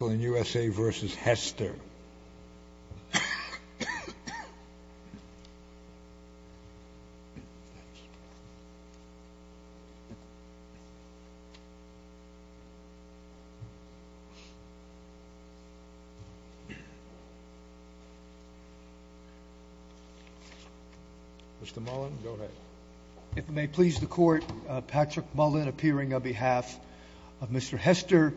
v. Hester. Mr. Mullen, go ahead. If it may please the Court, Patrick Mullen appearing on behalf of Mr. Hester.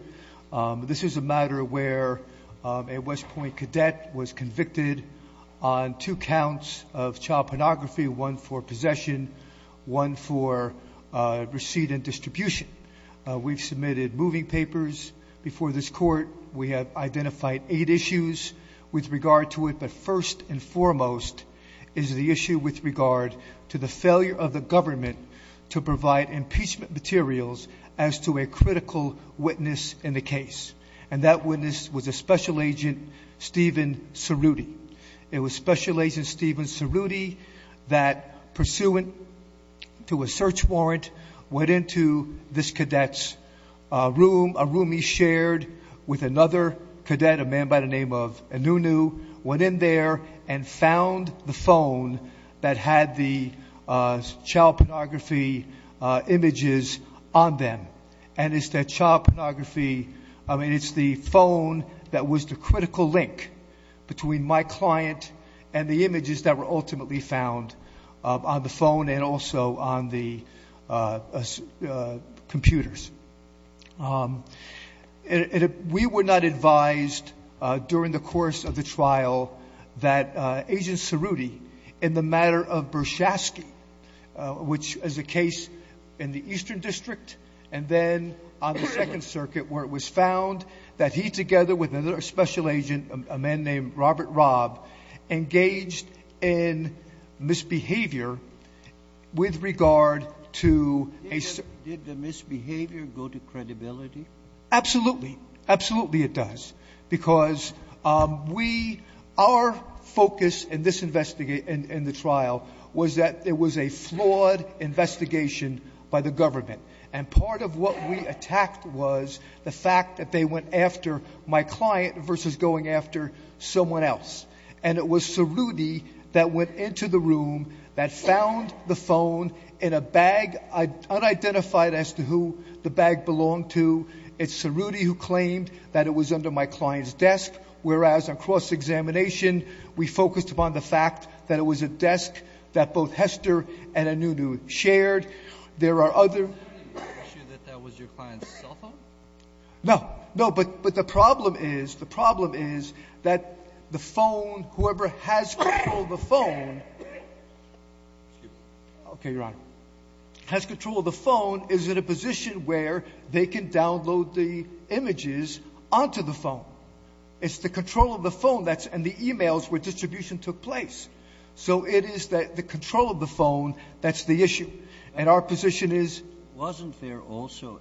This is a matter where a West Point cadet was convicted on two counts of child pornography, one for possession, one for receipt and distribution. We've submitted moving papers before this Court. We have identified eight issues with regard to it, but first and foremost is the issue with regard to the failure of the government to provide impeachment materials as to a critical witness in the case. And that witness was a Special Agent Stephen Cerruti. It was Special Agent Stephen Cerruti that, pursuant to a search warrant, went into this cadet's room, a room he shared with another cadet, a man by the name of Anunu, went in there and found the phone that had the child pornography images on them. And it's that child pornography, I mean, it's the phone that was the critical link between my client and the images that were ultimately found on the phone and also on the computers. We were not advised during the course of the trial that Agent Cerruti, in the matter of Bershasky, which is a case in the Eastern District and then on the Second Circuit, where it was found that he, together with another Special Agent, a man named Robert Robb, engaged in misbehavior with regard to a — Did the misbehavior go to credibility? Absolutely. Absolutely it does, because we — our focus in this investigation, in the trial, was that it was a flawed investigation by the government. And part of what we attacked was the fact that they went after my client versus going after someone else. And it was Cerruti that went into the room, that found the phone in a bag unidentified as to who the bag belonged to. It's Cerruti who claimed that it was under my client's desk, whereas on cross-examination we focused upon the fact that it was a desk that both Hester and Anunu shared. There are other — Are you sure that that was your client's cell phone? No. No. But the problem is, the problem is that the phone, whoever has control of the phone — okay, Your Honor — has control of the phone is in a position where they can download the images onto the phone. It's the control of the phone that's — and the e-mails where distribution took place. So it is the control of the phone that's the issue. And our position is — Are you sure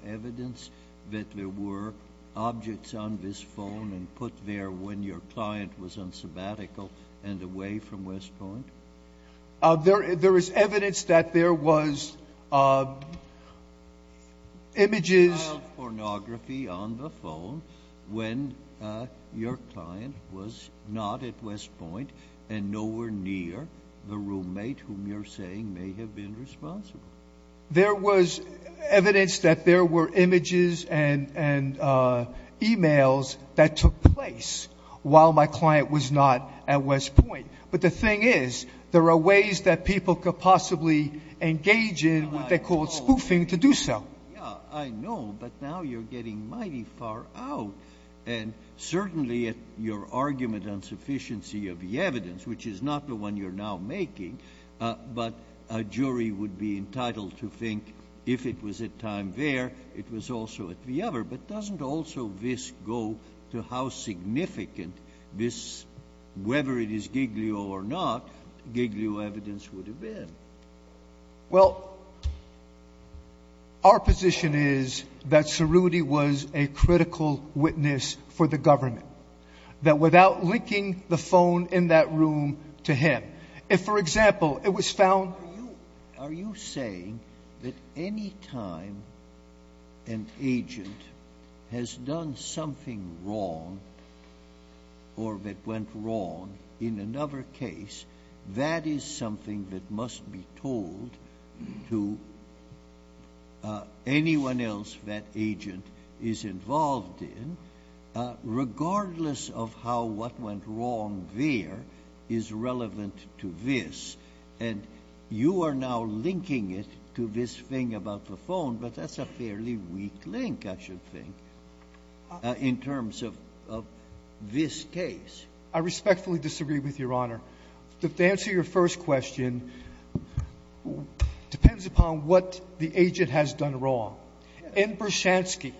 that there were objects on this phone and put there when your client was on sabbatical and away from West Point? There is evidence that there was images — Child pornography on the phone when your client was not at West Point and nowhere near the roommate whom you're saying may have been responsible. There was evidence that there were images and e-mails that took place while my client was not at West Point. But the thing is, there are ways that people could possibly engage in what they call spoofing to do so. Yeah, I know. But now you're getting mighty far out. And certainly your argument on sufficiency of the evidence, which is not the one you're now making, but a jury would be entitled to think if it was at time there, it was also at the other. But doesn't also this go to how significant this, whether it is Giglio or not, Giglio evidence would have been? Well, our position is that Cerruti was a critical witness for the government. That without linking the phone in that room to him. If, for example, it was found — Are you saying that any time an agent has done something wrong or that went wrong in another case, that is something that must be told to anyone else that agent is involved in, regardless of how what went wrong there is relevant to this. And you are now linking it to this thing about the phone. But that's a fairly weak link, I should think, in terms of this case. I respectfully disagree with Your Honor. The answer to your first question depends upon what the agent has done wrong. In Bershansky,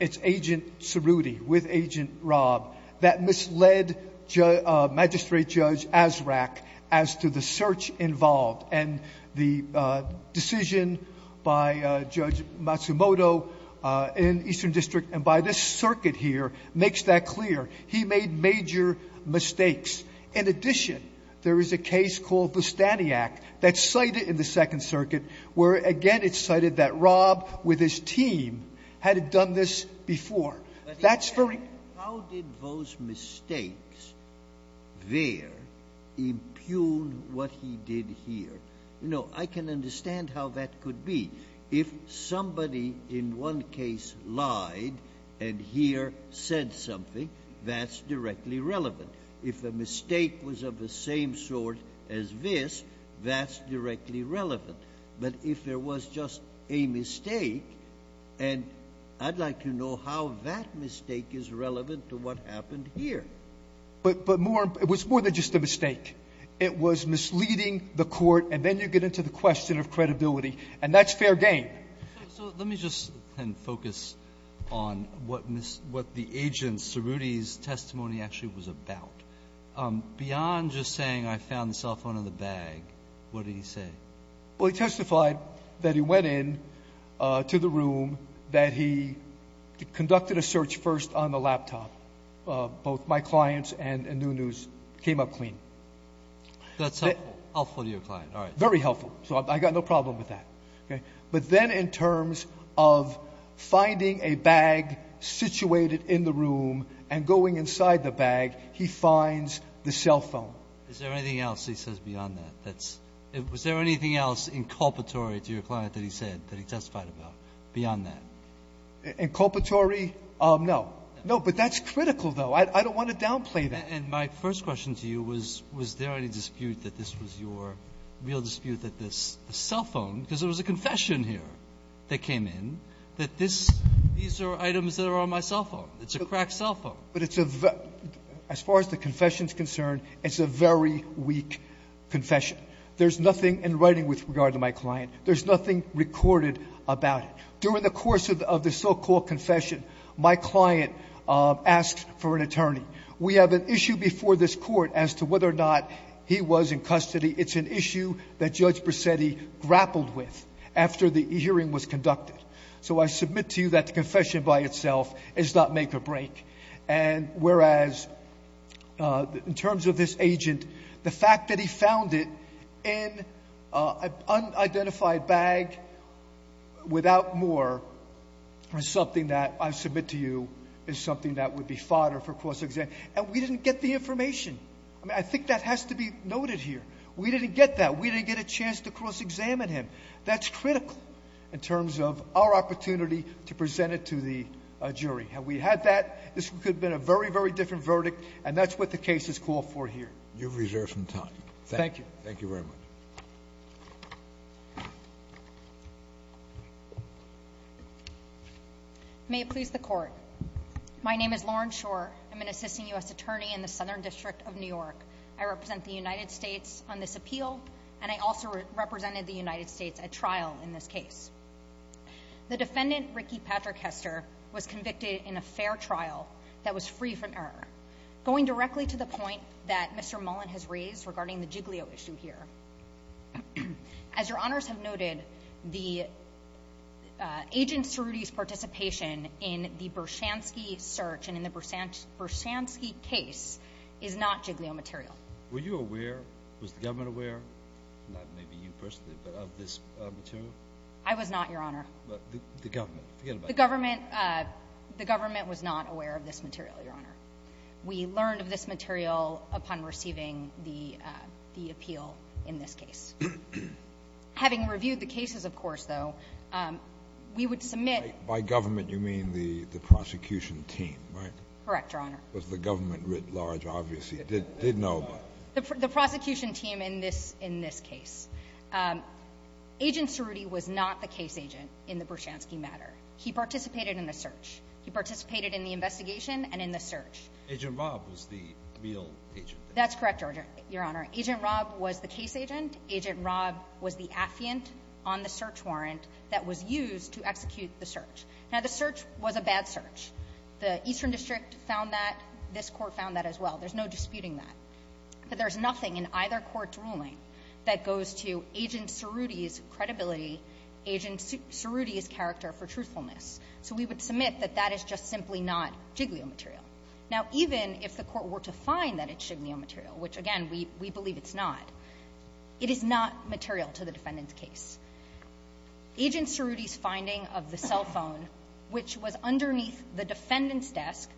it's Agent Cerruti with Agent Rob that misled Magistrate Judge Azraq as to the search involved. And the decision by Judge Matsumoto in Eastern District and by this circuit here makes that clear. He made major mistakes. In addition, there is a case called Bustaniac that's cited in the Second Circuit, where again it's cited that Rob, with his team, had done this before. That's very — But how did those mistakes there impugn what he did here? You know, I can understand how that could be. If somebody in one case lied and here said something, that's directly relevant. If a mistake was of the same sort as this, that's directly relevant. But if there was just a mistake, and I'd like to know how that mistake is relevant to what happened here. But more — it was more than just a mistake. It was misleading the court, and then you get into the question of credibility, and that's fair game. So let me just then focus on what the agent, Cerruti's, testimony actually was about. Beyond just saying I found the cell phone in the bag, what did he say? Well, he testified that he went in to the room, that he conducted a search first on the laptop. Both my clients and Nunu's came up clean. That's helpful. Helpful to your client. All right. Very helpful. So I've got no problem with that. But then in terms of finding a bag situated in the room and going inside the bag, he finds the cell phone. Is there anything else he says beyond that? Was there anything else inculpatory to your client that he said that he testified about beyond that? Inculpatory? No. No. But that's critical, though. I don't want to downplay that. And my first question to you was, was there any dispute that this was your real dispute, that this cell phone, because there was a confession here that came in, that this — these are items that are on my cell phone. It's a cracked cell phone. But it's a — as far as the confession is concerned, it's a very weak confession. There's nothing in writing with regard to my client. There's nothing recorded about it. During the course of the so-called confession, my client asked for an attorney. We have an issue before this court as to whether or not he was in custody. It's an issue that Judge Bracetti grappled with after the hearing was conducted. So I submit to you that the confession by itself is not make or break. And whereas, in terms of this agent, the fact that he found it in an unidentified bag without more is something that I submit to you is something that would be fodder for cross-examination. And we didn't get the information. I mean, I think that has to be noted here. We didn't get that. We didn't get a chance to cross-examine him. That's critical in terms of our opportunity to present it to the jury. Had we had that, this could have been a very, very different verdict, and that's what the case is called for here. You have reserved some time. Thank you. Thank you very much. May it please the Court. My name is Lauren Shore. I'm an assistant U.S. attorney in the Southern District of New York. I represent the United States on this appeal, and I also represented the United States at trial in this case. The defendant, Ricky Patrick Hester, was convicted in a fair trial that was free from error, going directly to the point that Mr. Mullen has raised regarding the Jiglio issue here. As Your Honors have noted, the agent Cerruti's participation in the Bershansky search and in the Bershansky case is not Jiglio material. Were you aware? Was the government aware? Not maybe you personally, but of this material? I was not, Your Honor. The government, forget about it. The government was not aware of this material, Your Honor. We learned of this material upon receiving the appeal in this case. Having reviewed the cases, of course, though, we would submit... By government, you mean the prosecution team, right? Correct, Your Honor. It was the government writ large, obviously, did know about it. The prosecution team in this case. Agent Cerruti was not the case agent in the Bershansky matter. He participated in the search. He participated in the investigation and in the search. Agent Robb was the real agent. That's correct, Your Honor. Agent Robb was the case agent. Agent Robb was the affiant on the search warrant that was used to execute the search. Now, the search was a bad search. The Eastern District found that. This Court found that as well. There's no disputing that. But there's nothing in either court's ruling that goes to Agent Cerruti's credibility, Agent Cerruti's character for truthfulness. So we would submit that that is just simply not Jiglio material. Now, even if the Court were to find that it's Jiglio material, which, again, we believe it's not, it is not material to the defendant's case. Agent Cerruti's finding of the cell phone, which was underneath the defendant's desk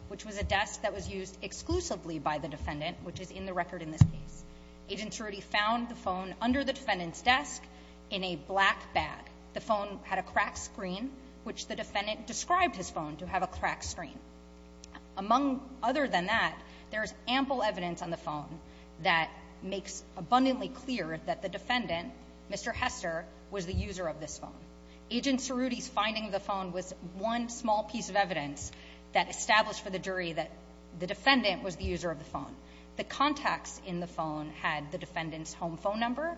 in a black bag. The phone had a cracked screen, which the defendant described his phone to have a cracked screen. Among other than that, there's ample evidence on the phone that makes abundantly clear that the defendant, Mr. Hester, was the user of this phone. Agent Cerruti's finding of the phone was one small piece of evidence that established for the jury that the defendant was the user of the phone. The contacts in the phone had the defendant's home phone number.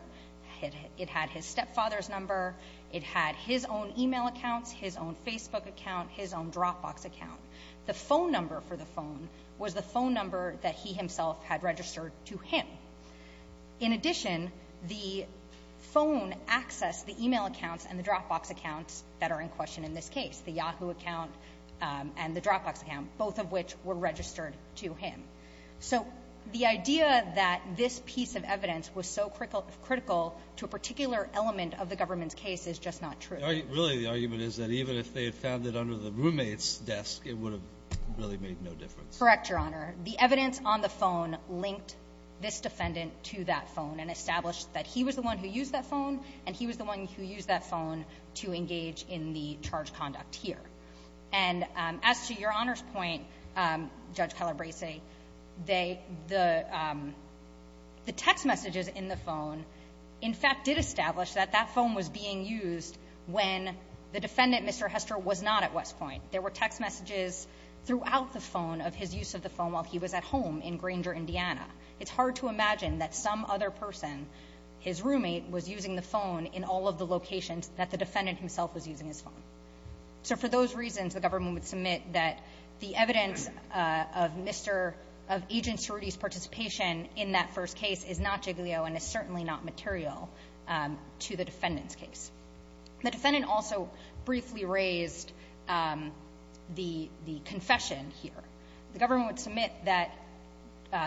It had his stepfather's number. It had his own e-mail accounts, his own Facebook account, his own Dropbox account. The phone number for the phone was the phone number that he himself had registered to him. In addition, the phone accessed the e-mail accounts and the Dropbox accounts that are in question in this case, the Yahoo account and the Dropbox account, both of which were registered to him. So the idea that this piece of evidence was so critical to a particular element of the government's case is just not true. Really, the argument is that even if they had found it under the roommate's desk, it would have really made no difference. Correct, Your Honor. The evidence on the phone linked this defendant to that phone and established that he was the one who used that phone and he was the one who used that phone to engage in the charge conduct here. And as to Your Honor's point, Judge Calabresi, the text messages in the phone, in fact, did establish that that phone was being used when the defendant, Mr. Hester, was not at West Point. There were text messages throughout the phone of his use of the phone while he was at home in Grainger, Indiana. It's hard to imagine that some other person, his roommate, was using the phone while he was at home. So for those reasons, the government would submit that the evidence of Agent Cerruti's participation in that first case is not Jiglio and is certainly not material to the defendant's case. The defendant also briefly raised the confession here. The government would submit that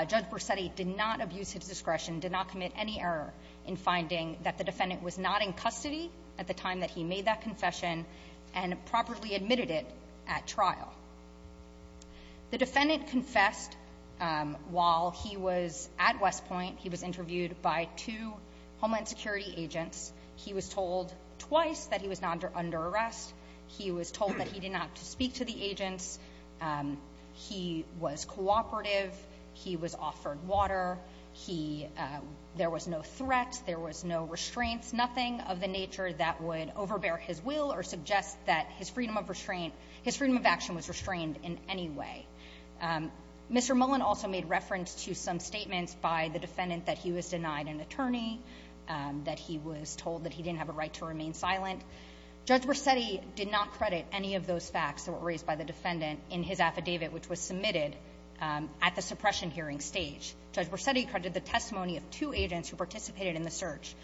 Judge Borsetti did not abuse his discretion, did not commit any error in finding that the defendant was not in custody at the time and properly admitted it at trial. The defendant confessed while he was at West Point. He was interviewed by two Homeland Security agents. He was told twice that he was under arrest. He was told that he did not speak to the agents. He was cooperative. He was offered water. There was no threat. There was no restraints, nothing of the nature that would overbear his will or suggest that his freedom of restraint, his freedom of action was restrained in any way. Mr. Mullen also made reference to some statements by the defendant that he was denied an attorney, that he was told that he didn't have a right to remain silent. Judge Borsetti did not credit any of those facts that were raised by the defendant in his affidavit, which was submitted at the suppression hearing stage. Judge Borsetti credited the testimony of two agents who participated in the search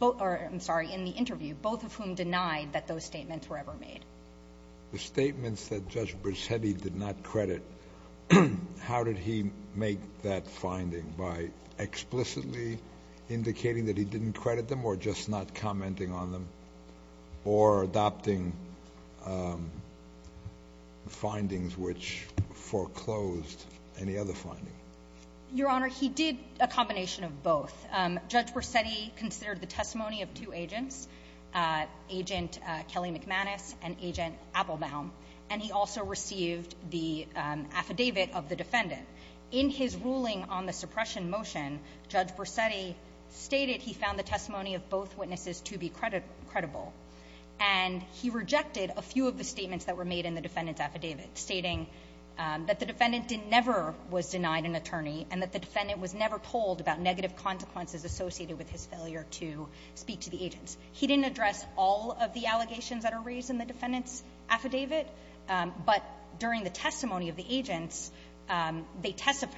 or, I'm sorry, in the interview, both of whom denied that those statements were ever made. The statements that Judge Borsetti did not credit, how did he make that finding? By explicitly indicating that he didn't credit them or just not commenting on them or adopting findings which foreclosed any other finding? Your Honor, he did a combination of both. Judge Borsetti considered the testimony of two agents, Agent Kelly McManus and Agent Appelbaum, and he also received the affidavit of the defendant. In his ruling on the suppression motion, Judge Borsetti stated he found the testimony of both witnesses to be credible, and he rejected a few of the statements that were made in the defendant's affidavit, stating that the defendant never was denied an attorney and that the defendant was never told about negative consequences associated with his failure to speak to the agents. He didn't address all of the allegations that are raised in the defendant's affidavit, but during the testimony of the agents, they testified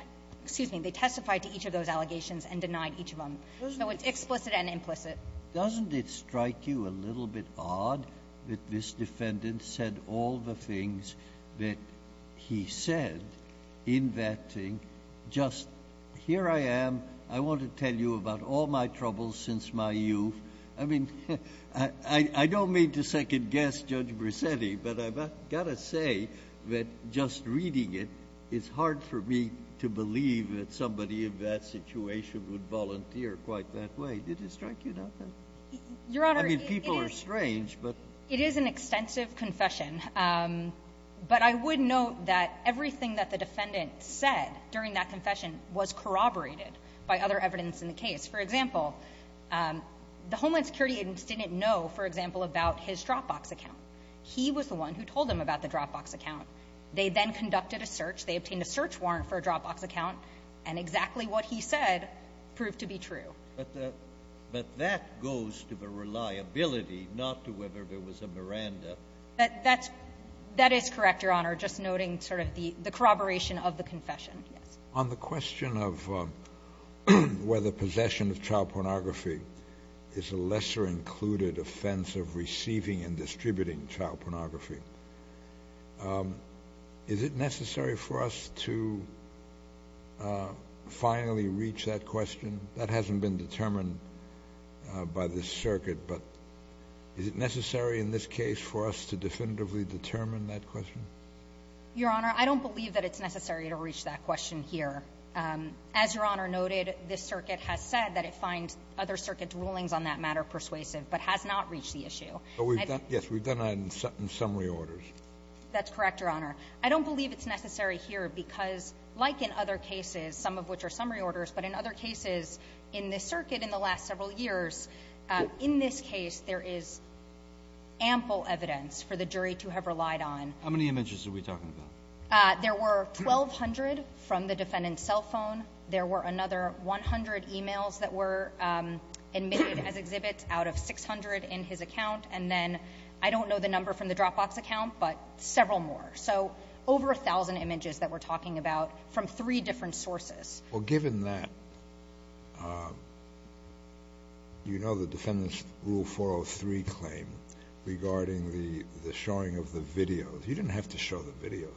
to each of those allegations and denied each of them. So it's explicit and implicit. Doesn't it strike you a little bit odd that this defendant said all the things that he said in that thing? Just, here I am, I want to tell you about all my troubles since my youth. I mean, I don't mean to second-guess Judge Borsetti, but I've got to say that just reading it, it's hard for me to believe that somebody in that situation would volunteer quite that way. Did it strike you that way? Your Honor, it is an extensive confession. But I would note that everything that the defendant said during that confession was corroborated by other evidence in the case. For example, the Homeland Security agents didn't know, for example, about his Dropbox account. He was the one who told them about the Dropbox account. They then conducted a search. They obtained a search warrant for a Dropbox account, and exactly what he said proved to be true. But that goes to the reliability, not to whether there was a Miranda. That is correct, Your Honor. Just noting sort of the corroboration of the confession. On the question of whether possession of child pornography is a lesser included offense of receiving and distributing child pornography, is it necessary for us to finally reach that question? That hasn't been determined by this circuit, but is it necessary in this case for us to definitively determine that question? Your Honor, I don't believe that it's necessary to reach that question here. As Your Honor noted, this circuit has said that it finds other circuit rulings on that matter persuasive, but has not reached the issue. Yes, we've done that in summary orders. That's correct, Your Honor. I don't believe it's necessary here because, like in other cases, some of which are summary orders, but in other cases in this circuit in the last several years, in this case there is ample evidence for the jury to have relied on. How many images are we talking about? There were 1,200 from the defendant's cell phone. There were another 100 emails that were admitted as exhibits out of 600 in his account. And then I don't know the number from the Dropbox account, but several more. So over 1,000 images that we're talking about from three different sources. Well, given that you know the defendant's Rule 403 claim regarding the showing of the videos, you didn't have to show the videos.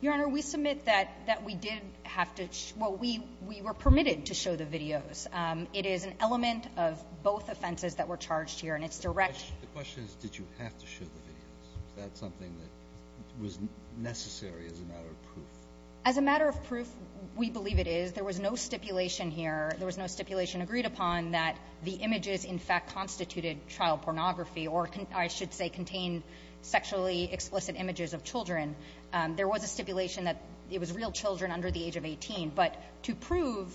Your Honor, we submit that we did have to show the videos. Well, we were permitted to show the videos. It is an element of both offenses that were charged here, and it's direct. The question is did you have to show the videos? Is that something that was necessary as a matter of proof? As a matter of proof, we believe it is. There was no stipulation here. There was no stipulation agreed upon that the images in fact constituted child pornography or, I should say, contained sexually explicit images of children. There was a stipulation that it was real children under the age of 18. But to prove,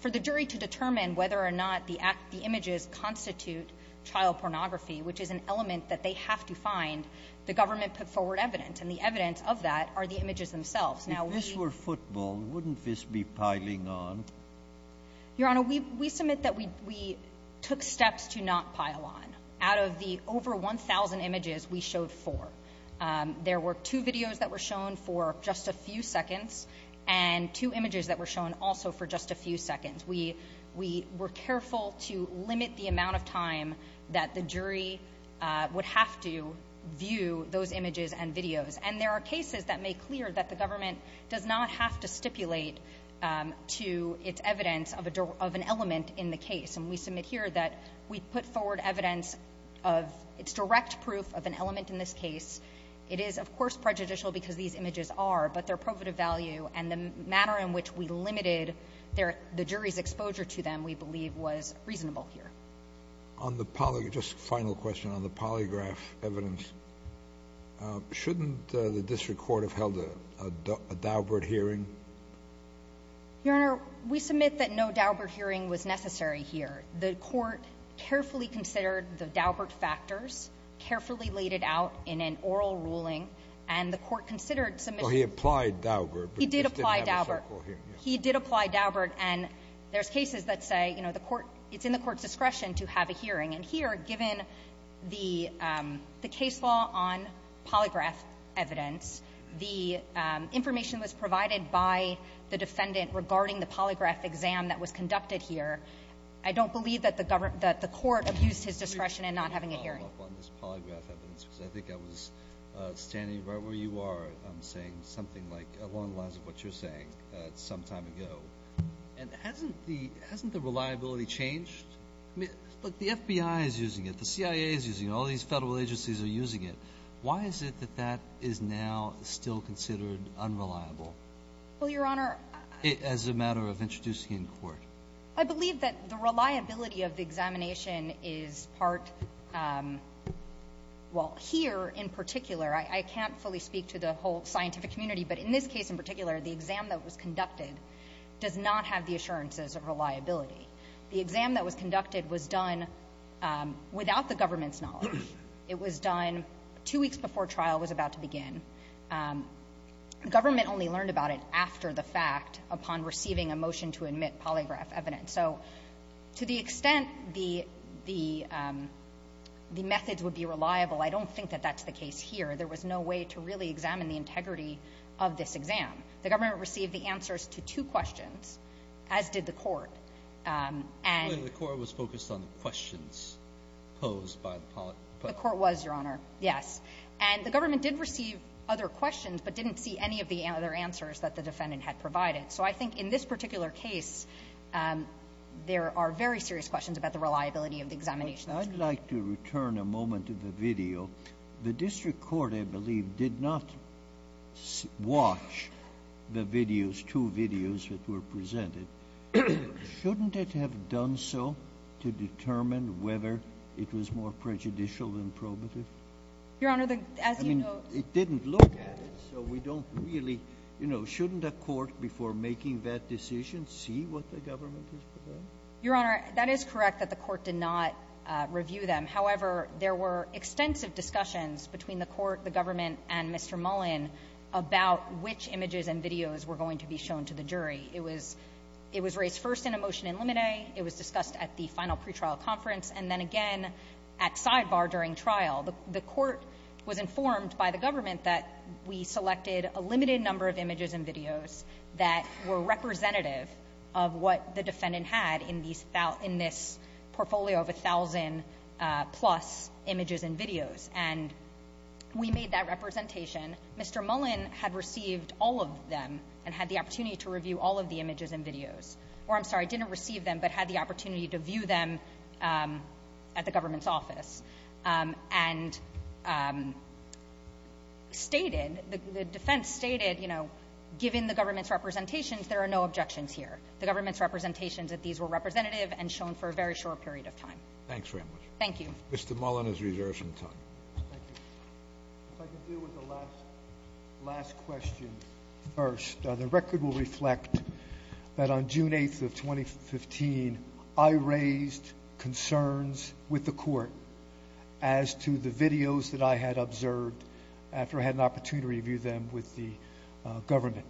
for the jury to determine whether or not the images constitute child pornography, which is an element that they have to find, the government put forward evidence, and the evidence of that are the images themselves. Now, we ---- If this were football, wouldn't this be piling on? Your Honor, we submit that we took steps to not pile on. Out of the over 1,000 images, we showed four. There were two videos that were shown for just a few seconds and two images that were shown also for just a few seconds. We were careful to limit the amount of time that the jury would have to view those images and videos. And there are cases that make clear that the government does not have to stipulate to its evidence of an element in the case. And we submit here that we put forward evidence of its direct proof of an element in this case. It is, of course, prejudicial because these images are, but their probative value and the manner in which we limited their ---- the jury's exposure to them, we believe, was reasonable here. On the ---- Just a final question on the polygraph evidence. Shouldn't the district court have held a Daubert hearing? Your Honor, we submit that no Daubert hearing was necessary here. The Court carefully considered the Daubert factors, carefully laid it out in an oral ruling, and the Court considered submission. Well, he applied Daubert, but just didn't have a so-called hearing. He did apply Daubert. He did apply Daubert. And there's cases that say, you know, the Court ---- it's in the Court's discretion to have a hearing. And here, given the case law on polygraph evidence, the information was provided by the defendant regarding the polygraph exam that was conducted here. I don't believe that the government ---- that the Court abused his discretion in not having a hearing. Can I follow up on this polygraph evidence? Because I think I was standing right where you are saying something like, along the lines of what you're saying some time ago. And hasn't the reliability changed? I mean, look, the FBI is using it. The CIA is using it. All these federal agencies are using it. Why is it that that is now still considered unreliable? Well, Your Honor ---- As a matter of introducing it in court. I believe that the reliability of the examination is part ---- well, here in particular. I can't fully speak to the whole scientific community. But in this case in particular, the exam that was conducted does not have the assurances of reliability. The exam that was conducted was done without the government's knowledge. It was done two weeks before trial was about to begin. Government only learned about it after the fact upon receiving a motion to admit polygraph evidence. So to the extent the methods would be reliable, I don't think that that's the case here. There was no way to really examine the integrity of this exam. The government received the answers to two questions, as did the court. And ---- The court was focused on the questions posed by the ---- The court was, Your Honor. Yes. And the government did receive other questions, but didn't see any of the other answers that the defendant had provided. So I think in this particular case, there are very serious questions about the reliability of the examination. I'd like to return a moment to the video. The district court, I believe, did not watch the videos, two videos that were presented. Shouldn't it have done so to determine whether it was more prejudicial than probative? Your Honor, the ---- I mean, it didn't look at it, so we don't really ---- you know, shouldn't a court before making that decision see what the government has provided? Your Honor, that is correct that the court did not review them. However, there were extensive discussions between the court, the government, and Mr. Mullen about which images and videos were going to be shown to the jury. It was raised first in a motion in limine. It was discussed at the final pretrial conference and then again at sidebar during trial. The court was informed by the government that we selected a limited number of images and videos that were representative of what the defendant had in this portfolio of 1,000-plus images and videos. And we made that representation. Mr. Mullen had received all of them and had the opportunity to review all of the images and videos. Or, I'm sorry, didn't receive them but had the opportunity to view them at the government's office and stated, the defense stated, you know, given the government's representations, there are no objections here. The government's representations that these were representative and shown for a very short period of time. Thank you. Mr. Mullen is reserved some time. Thank you. If I could deal with the last question first. The record will reflect that on June 8th of 2015, I raised concerns with the court as to the videos that I had observed after I had an opportunity to review them with the government.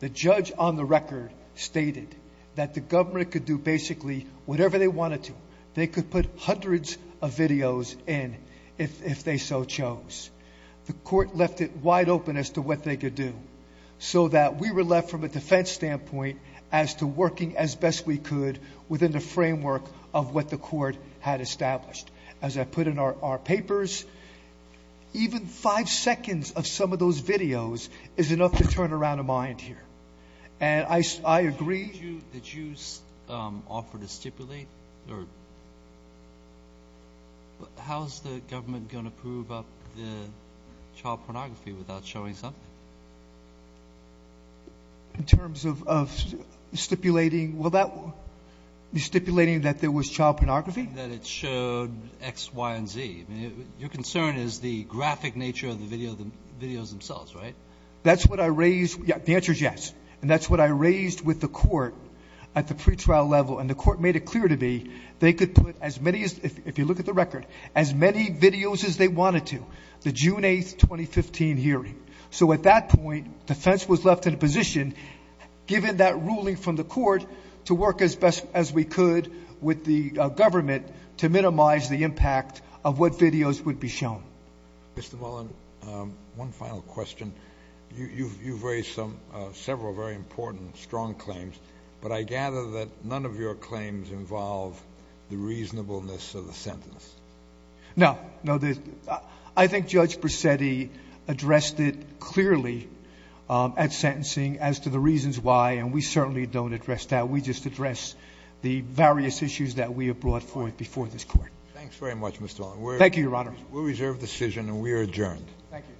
The judge on the record stated that the government could do basically whatever they wanted to. They could put hundreds of videos in if they so chose. The court left it wide open as to what they could do so that we were left from a defense standpoint as to working as best we could within the framework of what the court had established. As I put in our papers, even five seconds of some of those videos is enough to turn around a mind here. And I agree. Did you offer to stipulate? How is the government going to prove up the child pornography without showing something? In terms of stipulating that there was child pornography? That it showed X, Y, and Z. Your concern is the graphic nature of the videos themselves, right? That's what I raised. The answer is yes. And that's what I raised with the court at the pretrial level. And the court made it clear to me they could put as many, if you look at the record, as many videos as they wanted to, the June 8, 2015 hearing. So at that point, defense was left in a position, given that ruling from the court, to work as best as we could with the government to minimize the impact of what videos would be shown. Mr. Mullen, one final question. You've raised several very important, strong claims. But I gather that none of your claims involve the reasonableness of the sentence. No. I think Judge Brisetti addressed it clearly at sentencing as to the reasons why, and we certainly don't address that. We just address the various issues that we have brought forth before this court. Thanks very much, Mr. Mullen. Thank you, Your Honor. We'll reserve the decision, and we are adjourned. Thank you.